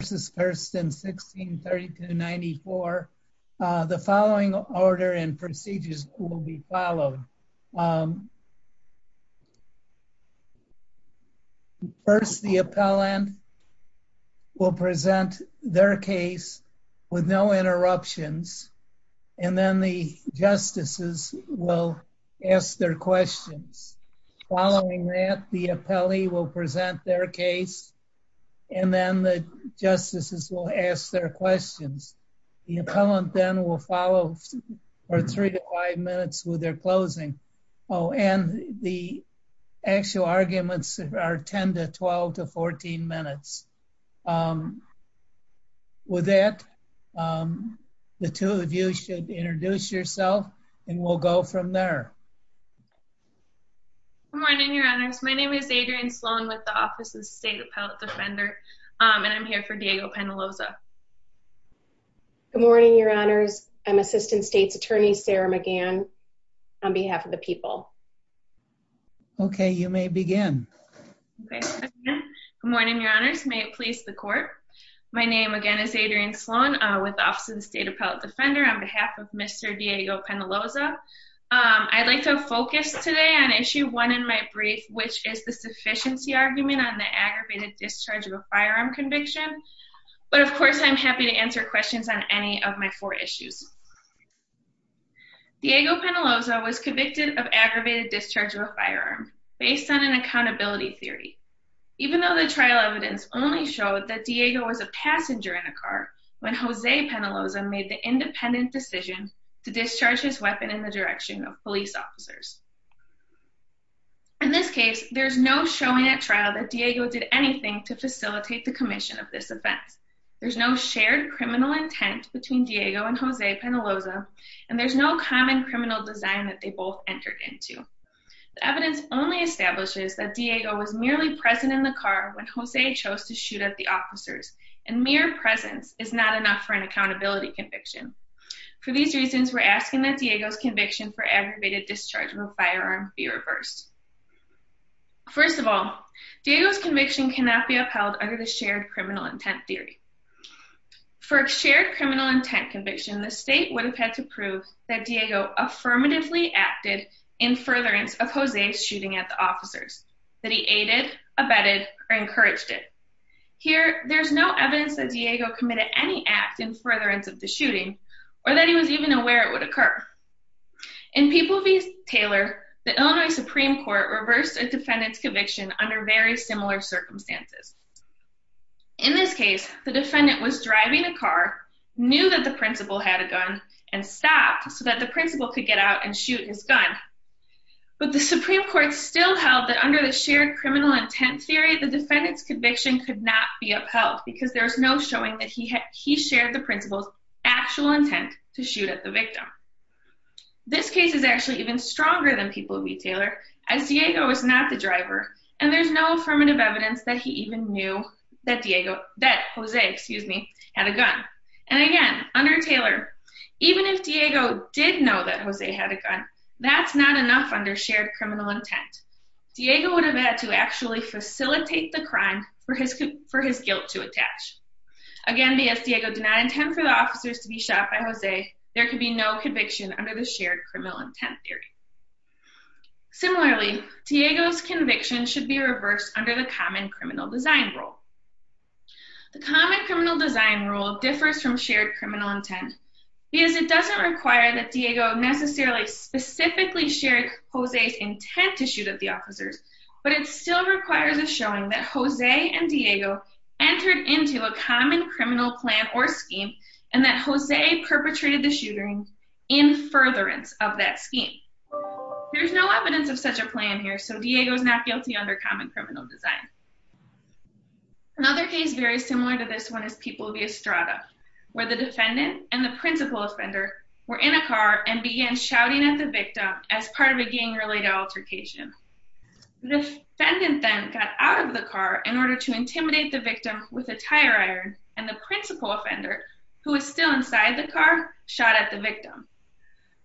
versus 1-16-3294. The following order and procedures will be followed. First, the appellant will present their case with no interruptions, and then the justices will ask their questions. Following that, the appellee will present their case, and then the justices will ask their questions. The appellant then will follow for three to five minutes with their closing. Oh, and the actual arguments are 10-12-14 minutes. With that, the two of you should introduce yourself, and we'll go from there. Good morning, Your Honors. My name is Adrienne Sloan with the Office of the State Appellate Defender, and I'm here for Diego Penaloza. Good morning, Your Honors. I'm Assistant States Attorney Sarah McGann on behalf of the people. Okay, you may begin. Good morning, Your Honors. May it please the Court. My name, again, is Adrienne Sloan with the Office of the State Appellate Defender on behalf of Mr. Diego Penaloza. I'd like to focus today on Issue 1 in my brief, which is the sufficiency argument on the aggravated discharge of a firearm conviction, but of course I'm happy to answer questions on any of my four issues. Diego Penaloza was convicted of aggravated discharge of a firearm based on an accountability theory, even though the trial evidence only showed that Diego was a passenger in a car when Jose Penaloza made the independent decision to discharge his weapon in the direction of police officers. In this case, there's no showing at trial that Diego did anything to facilitate the commission of this offense. There's no shared criminal intent between Diego and Jose Penaloza, and there's no common criminal design that they both entered into. The evidence only establishes that Diego was merely present in the car when Jose chose to shoot at the officers, and mere presence is not enough for an accountability conviction. For these reasons, we're asking that Diego's discharge of a firearm be reversed. First of all, Diego's conviction cannot be upheld under the shared criminal intent theory. For a shared criminal intent conviction, the state would have had to prove that Diego affirmatively acted in furtherance of Jose's shooting at the officers, that he aided, abetted, or encouraged it. Here, there's no evidence that Diego committed any act in furtherance of the Taylor, the Illinois Supreme Court reversed a defendant's conviction under very similar circumstances. In this case, the defendant was driving a car, knew that the principal had a gun, and stopped so that the principal could get out and shoot his gun, but the Supreme Court still held that under the shared criminal intent theory, the defendant's conviction could not be upheld because there's no showing that he had he shared the principal's actual intent to shoot at the V. Taylor, as Diego was not the driver, and there's no affirmative evidence that he even knew that Diego, that Jose, excuse me, had a gun. And again, under Taylor, even if Diego did know that Jose had a gun, that's not enough under shared criminal intent. Diego would have had to actually facilitate the crime for his guilt to attach. Again, be as Diego did not intend for the officers to be shot by Jose, there could be no conviction under the shared criminal intent theory. Similarly, Diego's conviction should be reversed under the common criminal design rule. The common criminal design rule differs from shared criminal intent because it doesn't require that Diego necessarily specifically shared Jose's intent to shoot at the officers, but it still requires a showing that Jose and Diego entered into a common criminal plan or scheme, and that there's no evidence of such a plan here, so Diego's not guilty under common criminal design. Another case very similar to this one is People v. Estrada, where the defendant and the principal offender were in a car and began shouting at the victim as part of a gang-related altercation. The defendant then got out of the car in order to intimidate the victim with a tire iron, and the principal offender, who was still inside the car, shot at the victim.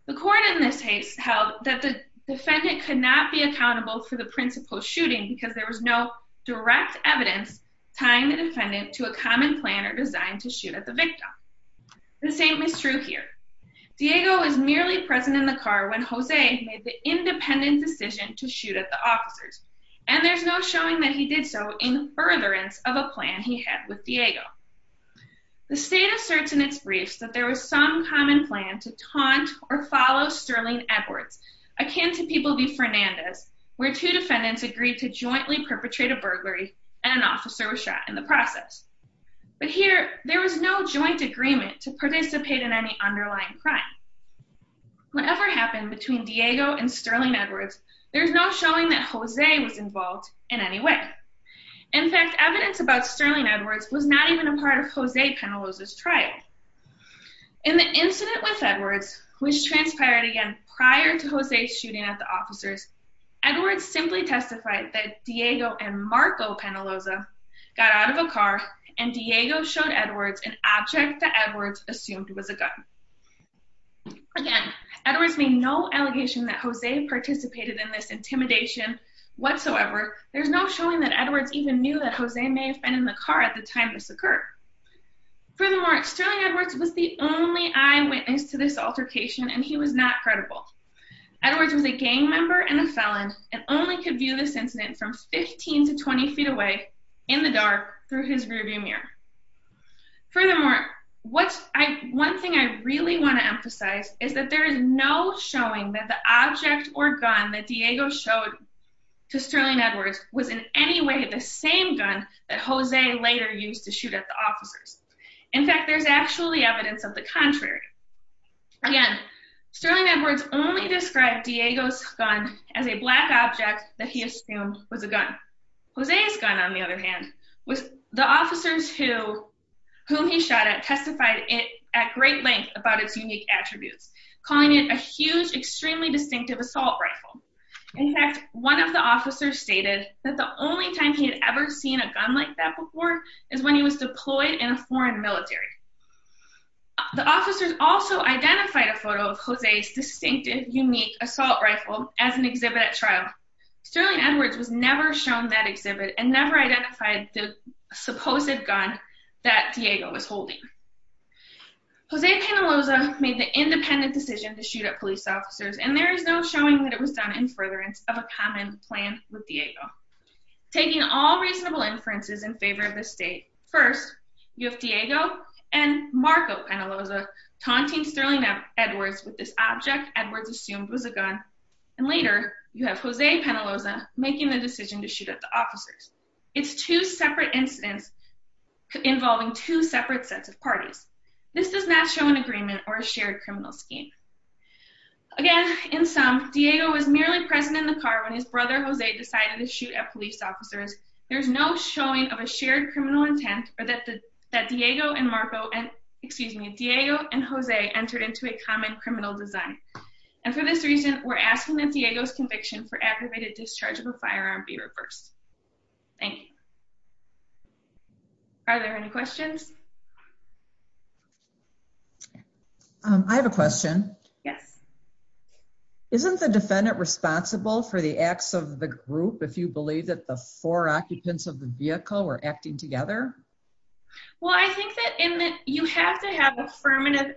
The court in this case held that the defendant could not be accountable for the principal's shooting because there was no direct evidence tying the defendant to a common plan or design to shoot at the victim. The same is true here. Diego is merely present in the car when Jose made the independent decision to shoot at the officers, and there's no showing that he did so in furtherance of a plan he had with Diego. The state asserts in its briefs that there was some common plan to akin to People v. Fernandez, where two defendants agreed to jointly perpetrate a burglary, and an officer was shot in the process. But here, there was no joint agreement to participate in any underlying crime. Whatever happened between Diego and Sterling Edwards, there's no showing that Jose was involved in any way. In fact, evidence about Sterling Edwards was not even a part of Jose prior to Jose's shooting at the officers. Edwards simply testified that Diego and Marco Penaloza got out of a car, and Diego showed Edwards an object that Edwards assumed was a gun. Again, Edwards made no allegation that Jose participated in this intimidation whatsoever. There's no showing that Edwards even knew that Jose may have been in the car at the time this was not credible. Edwards was a gang member and a felon and only could view this incident from 15 to 20 feet away in the dark through his rearview mirror. Furthermore, one thing I really want to emphasize is that there is no showing that the object or gun that Diego showed to Sterling Edwards was in any way the same gun that Jose later used to shoot at the officers. In fact, there's actually evidence of the contrary. Again, Sterling Edwards only described Diego's gun as a black object that he assumed was a gun. Jose's gun, on the other hand, was the officers whom he shot at testified it at great length about its unique attributes, calling it a huge, extremely distinctive assault rifle. In fact, one of the officers stated that the only time he had ever seen a gun like that before is when he was deployed in a foreign military. The officers also identified a photo of Jose's distinctive, unique assault rifle as an exhibit at trial. Sterling Edwards was never shown that exhibit and never identified the supposed gun that Diego was holding. Jose Penaloza made the independent decision to shoot at police officers and there is no showing that it was done in furtherance of a common plan with Diego. Taking all reasonable inferences in favor of this state, first you have Diego and Marco Penaloza taunting Sterling Edwards with this object Edwards assumed was a gun and later you have Jose Penaloza making the decision to shoot at the officers. It's two separate incidents involving two separate sets of parties. This does not show an agreement or a shared criminal scheme. Again, in sum, Diego was merely present in the car when his brother Jose decided to shoot at police officers. There's no showing of a shared criminal intent or that the that Diego and Marco and excuse me Diego and Jose entered into a common criminal design and for this reason we're asking that Diego's conviction for aggravated discharge of a firearm be reversed. Thank you. Are there any questions? I have a question. Yes. Isn't the defendant responsible for the acts of the group if you believe that the four occupants of the vehicle were acting together? Well I think that in that you have to have affirmative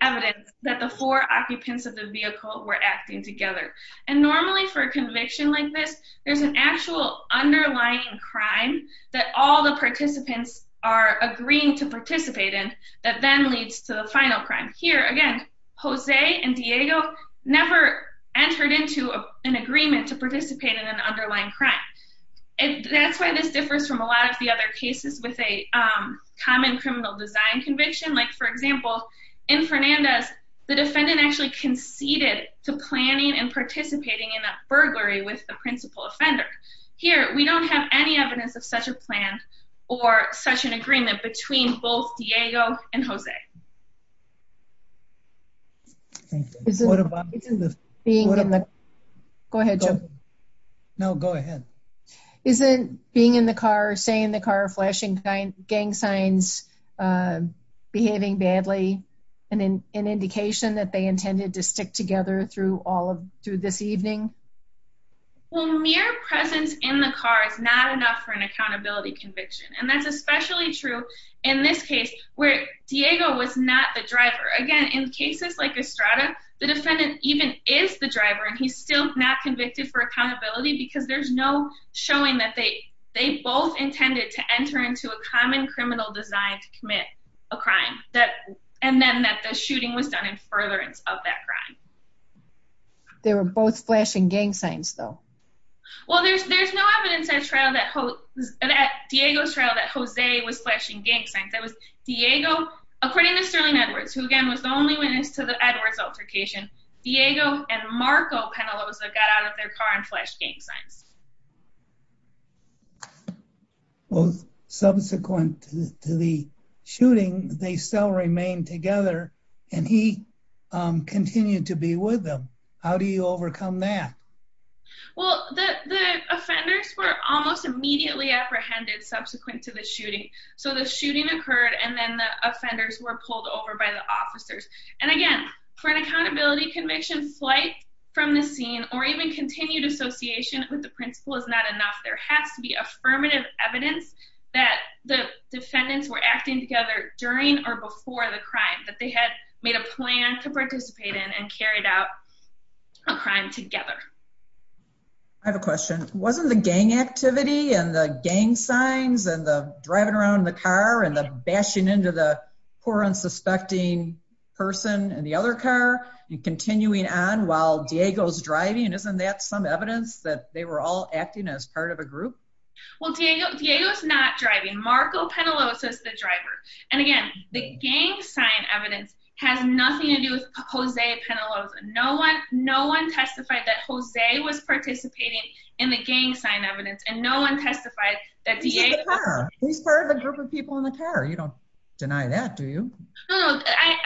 evidence that the four occupants of the vehicle were acting together and normally for a conviction like this there's an actual underlying crime that all the participants are agreeing to participate in that then leads to the final crime. Here again Jose and Diego never entered into an agreement to participate in an underlying crime. That's why this differs from a lot of the other cases with a common criminal design conviction like for example in Fernandez the defendant actually conceded to planning and participating in a burglary with the such an agreement between both Diego and Jose. Go ahead Joe. No go ahead. Isn't being in the car, staying in the car, flashing gang signs behaving badly an indication that they intended to stick together through all of through this evening? Well mere presence in the car is not enough for an accountability conviction and that's especially true in this case where Diego was not the driver. Again in cases like Estrada the defendant even is the driver and he's still not convicted for accountability because there's no showing that they they both intended to enter into a common criminal design to commit a crime that and then that the shooting was done in furtherance of that crime. They were both flashing gang signs though. Well there's there's no evidence at trial that Diego's trial that Jose was flashing gang signs. That was Diego according to Sterling Edwards who again was the only witness to the Edwards altercation. Diego and Marco Penaloza got out of their car and flashed gang signs. Well subsequent to the shooting they still remained together and he continued to be with them. How do you overcome that? Well the the offenders were almost immediately apprehended subsequent to the shooting. So the shooting occurred and then the offenders were pulled over by the officers and again for an accountability conviction flight from the scene or even continued association with the principal is not enough. There has to be affirmative evidence that the defendants were acting together during or before the crime that they had made a plan to participate in and carried out a crime together. I have a question wasn't the gang activity and the gang signs and the driving around the car and the bashing into the poor unsuspecting person in the other car and continuing on while Diego's driving and isn't that some evidence that they were all acting as part of a group? Well Diego Diego's not driving. Marco Penaloza's the driver and again the gang sign evidence has nothing to do with Jose Penaloza. No one no one testified that Jose was participating in the gang sign evidence and no one testified that Diego. He's part of the group of people in the car you don't deny that do you? No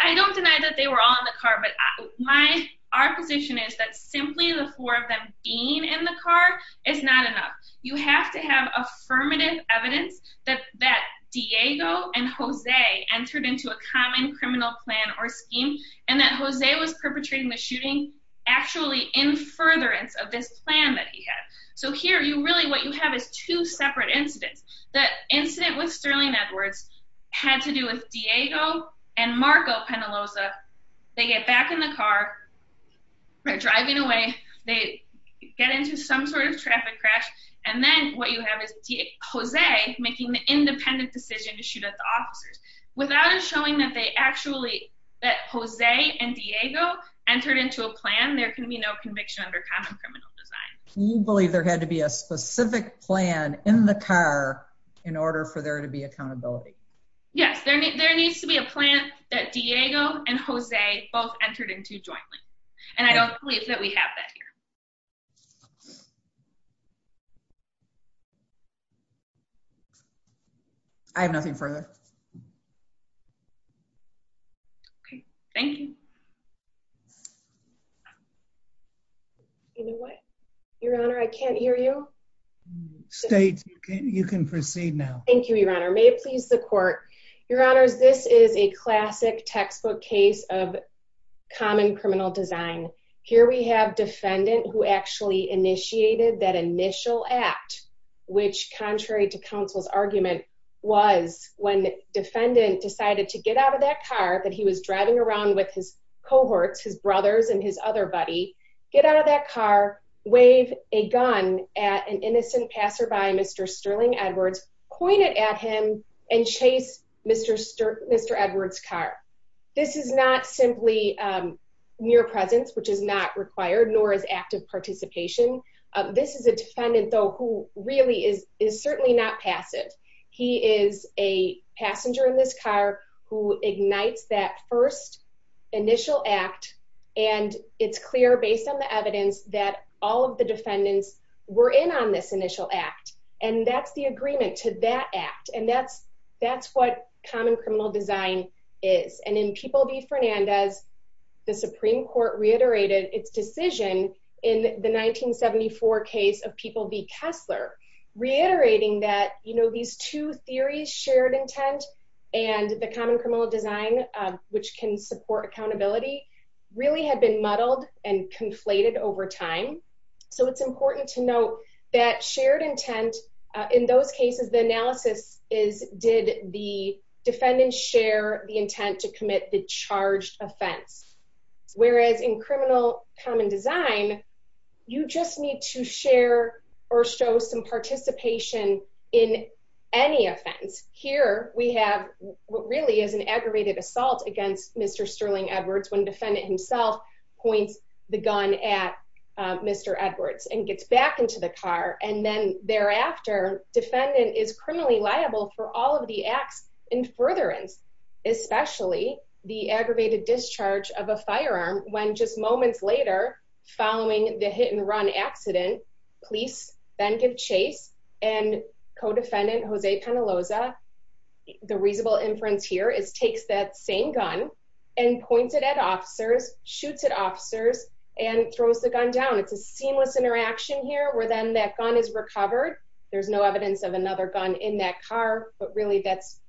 I don't deny that they were all in the car but my our position is that simply the four of them being in the car is not enough. You have to have affirmative evidence that that Diego and Jose entered into a common criminal plan or scheme and that Jose was perpetrating the shooting actually in furtherance of this plan that he had. So here you really what you have is two separate incidents. The incident with Sterling Edwards had to do with Diego and Marco Penaloza. They get back in the car driving away they get into some sort of traffic crash and then what you have is Jose making the independent decision to shoot at the officers without us showing that they actually that Jose and Diego entered into a plan there can be no conviction under common criminal design. You believe there had to be a specific plan in the car in order for there to be accountability? Yes there needs to be a plan that Diego and Jose both entered into jointly and I don't believe that we have that here. I have nothing further. Okay thank you. You know what your honor I can't hear you. State you can proceed now. Thank you your honor may please the court. Your honors this is a classic textbook case of common criminal design. Here we have defendant who actually initiated that initial act which contrary to counsel's argument was when defendant decided to get out of that car that he was driving around with his cohorts, his brothers and his other buddy. Get out of that car, wave a gun at an innocent passer by Mr. Sterling Edwards, point it at him and chase Mr. Edwards car. This is not simply mere presence which is not required nor is active participation. This is a defendant though who really is is certainly not passive. He is a passenger in this car who ignites that first initial act and it's clear based on the evidence that all of the defendants were in on this initial act and that's the agreement to that act and that's that's what common criminal design is and in People v. Fernandez the Supreme Court reiterated its decision in the 1974 case of People v. Kessler reiterating that you know these two theories shared intent and the common criminal design which can support accountability really had been muddled and conflated over time. So it's important to note that shared intent in those cases the analysis is did the defendant share the intent to commit the charged offense whereas in criminal common design you just need to share or show some participation in any offense. Here we have what really is an aggravated assault against Mr. Sterling Edwards when defendant himself points the gun at Mr. Edwards and gets back into the car and then thereafter defendant is criminally liable for all of the acts in furtherance especially the aggravated discharge of a firearm when just moments later following the hit and run accident police then give chase and co-defendant Jose Penaloza the reasonable inference here is takes that same gun and points it at officers shoots at officers and throws the gun down. It's a seamless interaction here where then that gun is recovered there's no evidence of another gun in that car but really that's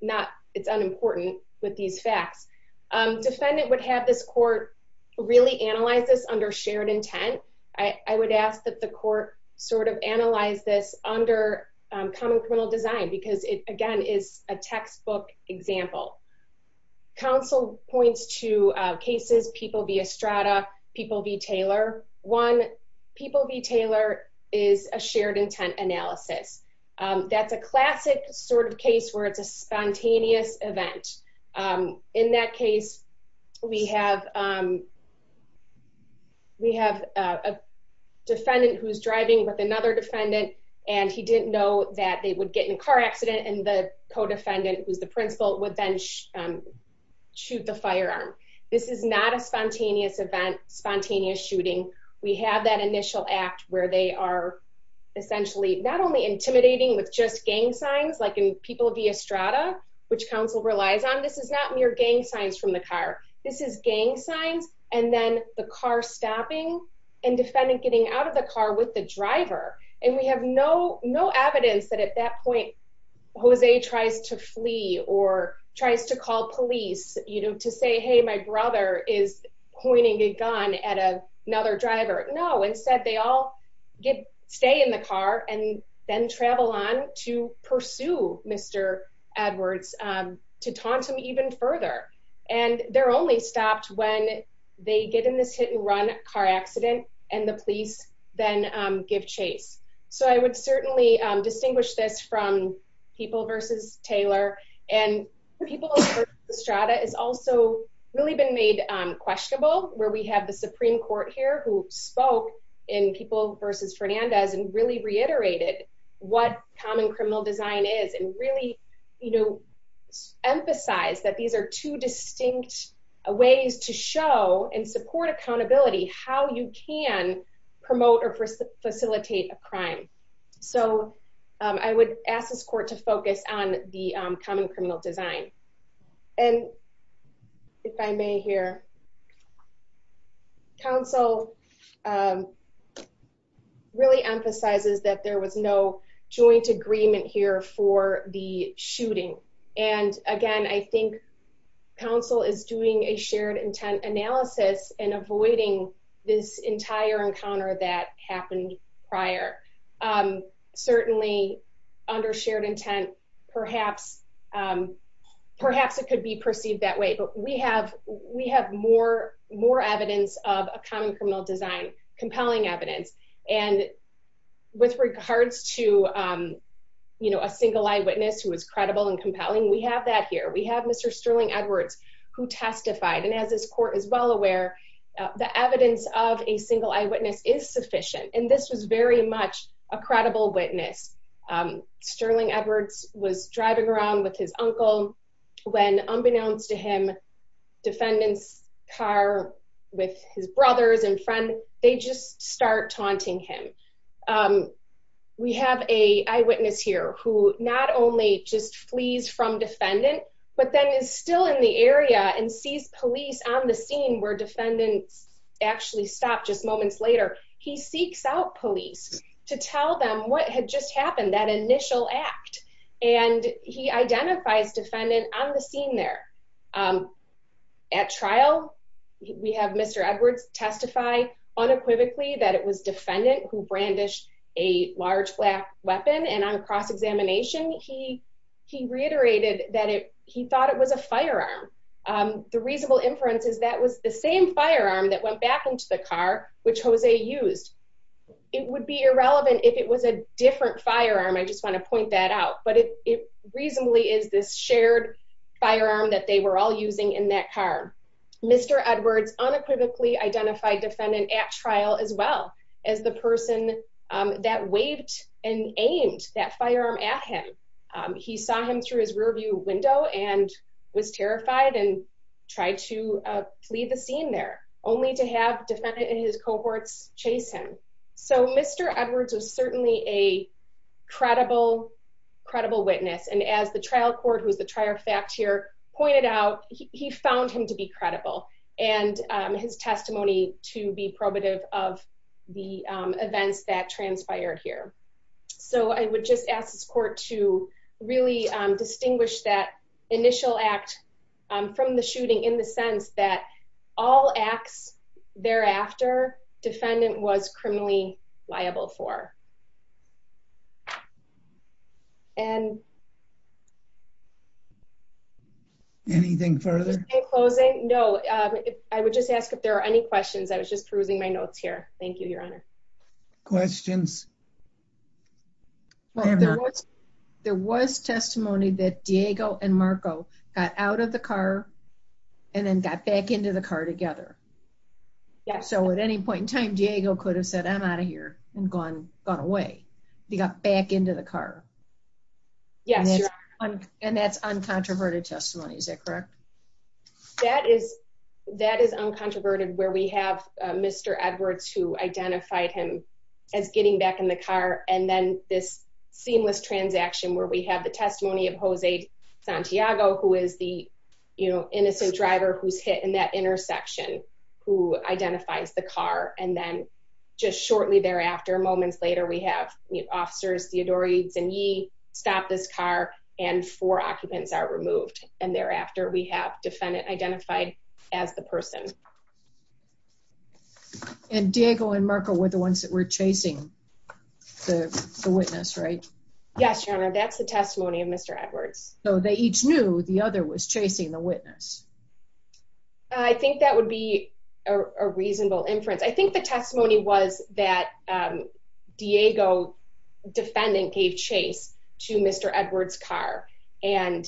not it's unimportant with these facts. Defendant would have this court really analyze this under shared intent. I would ask that the court sort of analyze this under common criminal design because it again is a textbook example. Counsel points to cases People v. Estrada, People v. Taylor. One People v. Taylor is a shared intent analysis. That's a classic sort of case where it's a spontaneous event. In that case we have a defendant who's driving with another defendant and he didn't know that they would get in a car accident and the co-defendant who's the principal would then shoot the firearm. This is not a spontaneous event, spontaneous shooting. We have that initial act where they are essentially not only intimidating with just gang signs like in People v. Estrada which counsel relies on. This is not mere gang signs from the car. This is gang signs and then the car stopping and defendant getting out of the car with the driver and we have no evidence that at that point Jose tries to flee or tries to call police to say hey my brother is pointing a gun at another driver. No instead they all stay in the car and then travel on to pursue Mr. Edwards to taunt him even further and they're only stopped when they get in this hit and run car accident and the police then give chase. So I would certainly distinguish this from People v. Taylor and People v. Estrada has also really been made questionable where we have the Supreme Court here who spoke in People v. Fernandez and really reiterated what common criminal design is and really you know emphasize that these are two distinct ways to show and support accountability how you can promote or facilitate a crime. So I would ask this court to focus on the common criminal design and if I may here counsel really emphasizes that there was no joint agreement here for the shooting and again I think counsel is doing a shared intent analysis and avoiding this entire encounter that happened prior. Certainly under shared intent perhaps it could be perceived that way but we have more evidence of a common criminal design compelling evidence and with regards to you know a single eyewitness who is credible and the evidence of a single eyewitness is sufficient and this was very much a credible witness. Sterling Edwards was driving around with his uncle when unbeknownst to him defendant's car with his brothers and friends they just start taunting him. We have a eyewitness here who not only just flees from defendant but then is still in the area and sees police on the scene where actually stopped just moments later he seeks out police to tell them what had just happened that initial act and he identifies defendant on the scene there. At trial we have Mr. Edwards testify unequivocally that it was defendant who brandished a large black weapon and on cross-examination he reiterated that he thought it was a firearm. The reasonable inference is that was the same firearm that went back into the car which Jose used. It would be irrelevant if it was a different firearm I just want to point that out but it reasonably is this shared firearm that they were all using in that car. Mr. Edwards unequivocally identified defendant at trial as well as the person that waved and aimed that firearm at him. He saw him through his rear window and was terrified and tried to plead the scene there only to have defendant in his cohorts chase him. So Mr. Edwards was certainly a credible witness and as the trial court who's the trier fact here pointed out he found him to be credible and his testimony to be probative of the events that transpired here. So I would just ask this court to really distinguish that initial act from the shooting in the sense that all acts thereafter defendant was criminally liable for and anything further closing no I would just ask if there are any questions I was just perusing my testimony that Diego and Marco got out of the car and then got back into the car together yeah so at any point in time Diego could have said I'm out of here and gone gone away he got back into the car yes and that's uncontroverted testimony is that correct that is that is uncontroverted where we have Mr. Edwards who identified him as getting back in the car and then this seamless transaction where we have the testimony of Jose Santiago who is the you know innocent driver who's hit in that intersection who identifies the car and then just shortly thereafter moments later we have officers Theodorides and Yee stop this car and four occupants are removed and thereafter we have defendant identified as the person and Diego and Marco were the ones that were chasing the witness right yes your honor that's the testimony of Mr. Edwards so they each knew the other was chasing the witness I think that would be a reasonable inference I think the testimony was that Diego defendant gave chase to Mr. Edwards car and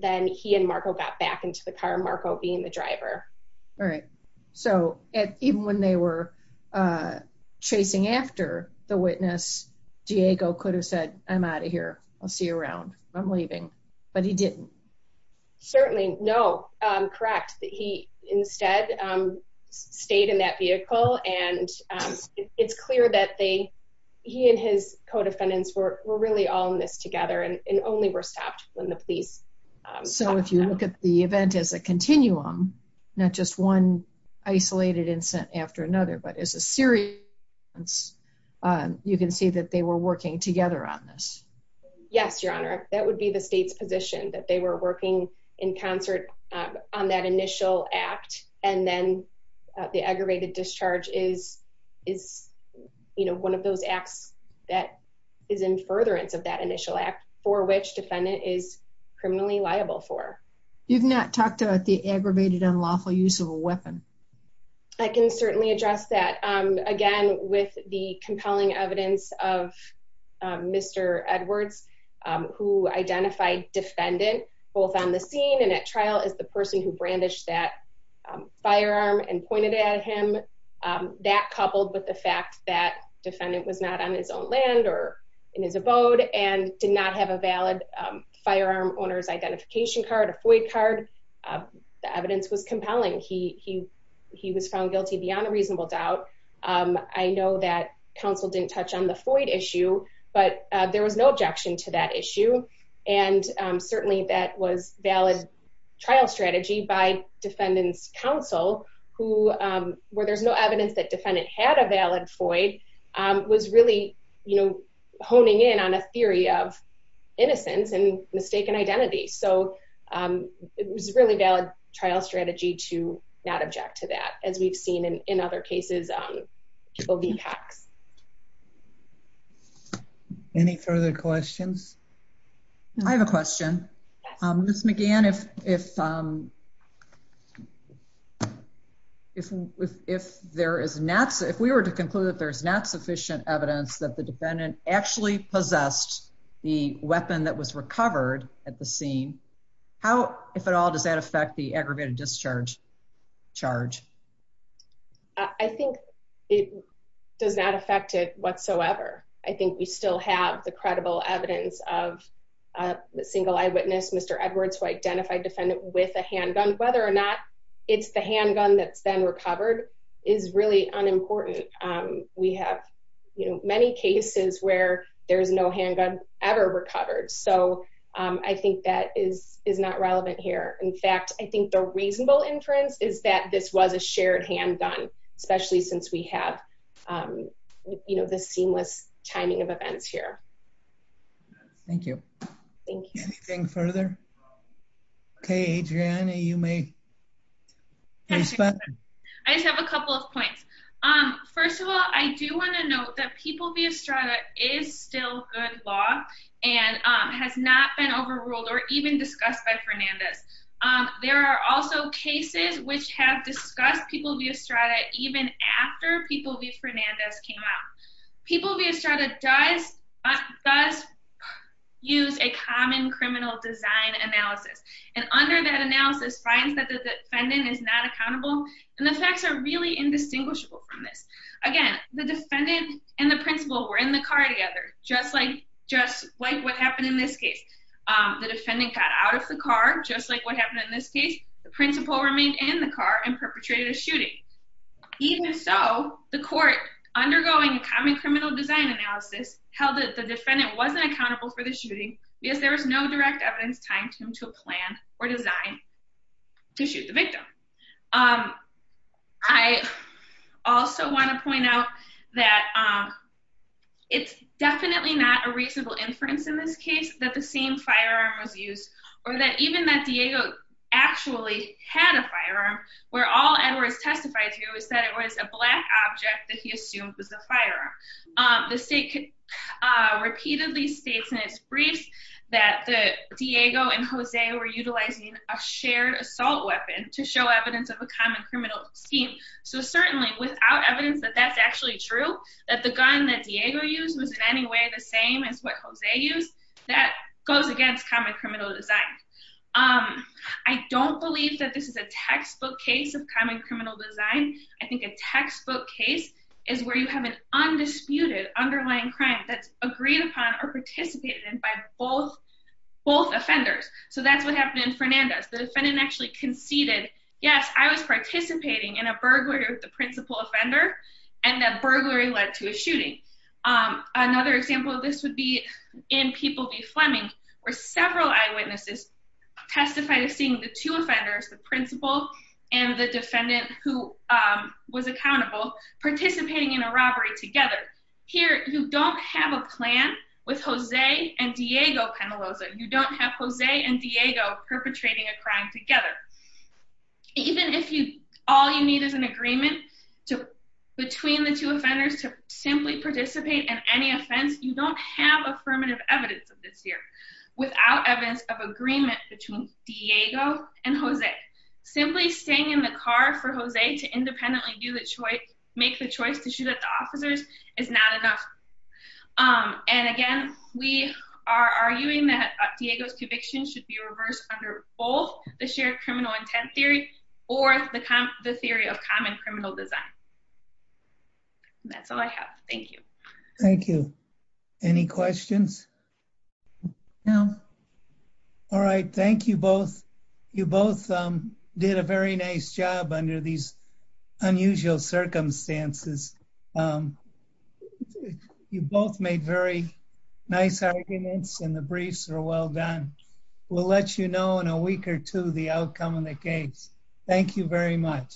then he and Marco got back into the car Marco being the driver all right so even when they were chasing after the witness Diego could have said I'm out of here I'll see you around I'm leaving but he didn't certainly no correct that he instead stayed in that vehicle and it's clear that they he and his co-defendants were really all in this together and not just one isolated incident after another but as a series you can see that they were working together on this yes your honor that would be the state's position that they were working in concert on that initial act and then the aggravated discharge is is you know one of those acts that is in furtherance of that initial act for which defendant is criminally liable for you've not talked about the aggravated unlawful use of a weapon I can certainly address that again with the compelling evidence of Mr. Edwards who identified defendant both on the scene and at trial is the person who brandished that firearm and pointed at him that coupled with the fact that defendant was not on his own land or in his abode and did not have a valid firearm owner's void card the evidence was compelling he he he was found guilty beyond a reasonable doubt I know that counsel didn't touch on the void issue but there was no objection to that issue and certainly that was valid trial strategy by defendant's counsel who where there's no evidence that defendant had a valid void was really you know honing in on a theory of innocence and mistaken identity so it was really valid trial strategy to not object to that as we've seen in other cases people do tax any further questions I have a question miss McGann if if if if there is not if we were to conclude that there's not sufficient evidence that the defendant actually possessed the weapon that was recovered at the scene how if at all does that affect the aggravated discharge charge I think it does not affect it whatsoever I think we still have the credible evidence of a single eyewitness Mr. Edwards who identified defendant with a handgun whether or not it's the handgun that's been recovered is really unimportant we have you there's no handgun ever recovered so I think that is is not relevant here in fact I think the reasonable inference is that this was a shared handgun especially since we have you know the seamless timing of events here thank you thank you anything further okay Adriana you may I just have a couple of points first of all I do want to note that people via strata is still good law and has not been overruled or even discussed by Fernandez there are also cases which have discussed people via strata even after people via Fernandez came out people via strata does but does use a common criminal design analysis and under that analysis finds that the defendant is not accountable and the facts are really indistinguishable from this again the defendant and the principal were in the car together just like just like what happened in this case the defendant got out of the car just like what happened in this case the principal remained in the car and perpetrated a shooting even so the court undergoing a common criminal design analysis held that the defendant wasn't accountable for the shooting because there was no direct evidence tying to him to a plan or design to shoot the victim I also want to point out that it's definitely not a reasonable inference in this case that the same firearm was used or that even that Diego actually had a firearm where all Edwards testified to is that it was a black object that he assumed was a firearm the state repeatedly states in its briefs that the Diego and Jose were utilizing a shared assault weapon to show evidence of a common criminal scheme so certainly without evidence that that's actually true that the gun that Diego used was in any way the same as what Jose used that goes against common criminal design I don't believe that this is a textbook case of common criminal design I think a textbook case is where you have an undisputed underlying crime that's agreed upon or participated in by both both offenders so that's what happened in Fernandez the defendant actually conceded yes I was participating in a burglary with the principal offender and that burglary led to a shooting another example of this would be in People v. Fleming where several eyewitnesses testified of seeing the two offenders the principal and the defendant who was accountable participating in a robbery together here you don't have a plan with Jose and Diego Penaloza you don't have Jose and Diego perpetrating a crime together even if you all you need is an agreement to between the two offenders to simply participate in any offense you don't have affirmative evidence of this year without evidence of agreement between Diego and Jose simply staying in the car for Jose to independently do the choice make the choice to shoot at the officers is not enough and again we are arguing that Diego's conviction should be reversed under both the shared criminal intent theory or the the theory of common criminal design that's all I have thank you thank you any questions no all right thank you both you both did a very nice job under these unusual circumstances you both made very nice arguments and the briefs are well done we'll let you know in a week or two the outcome of the case thank you very much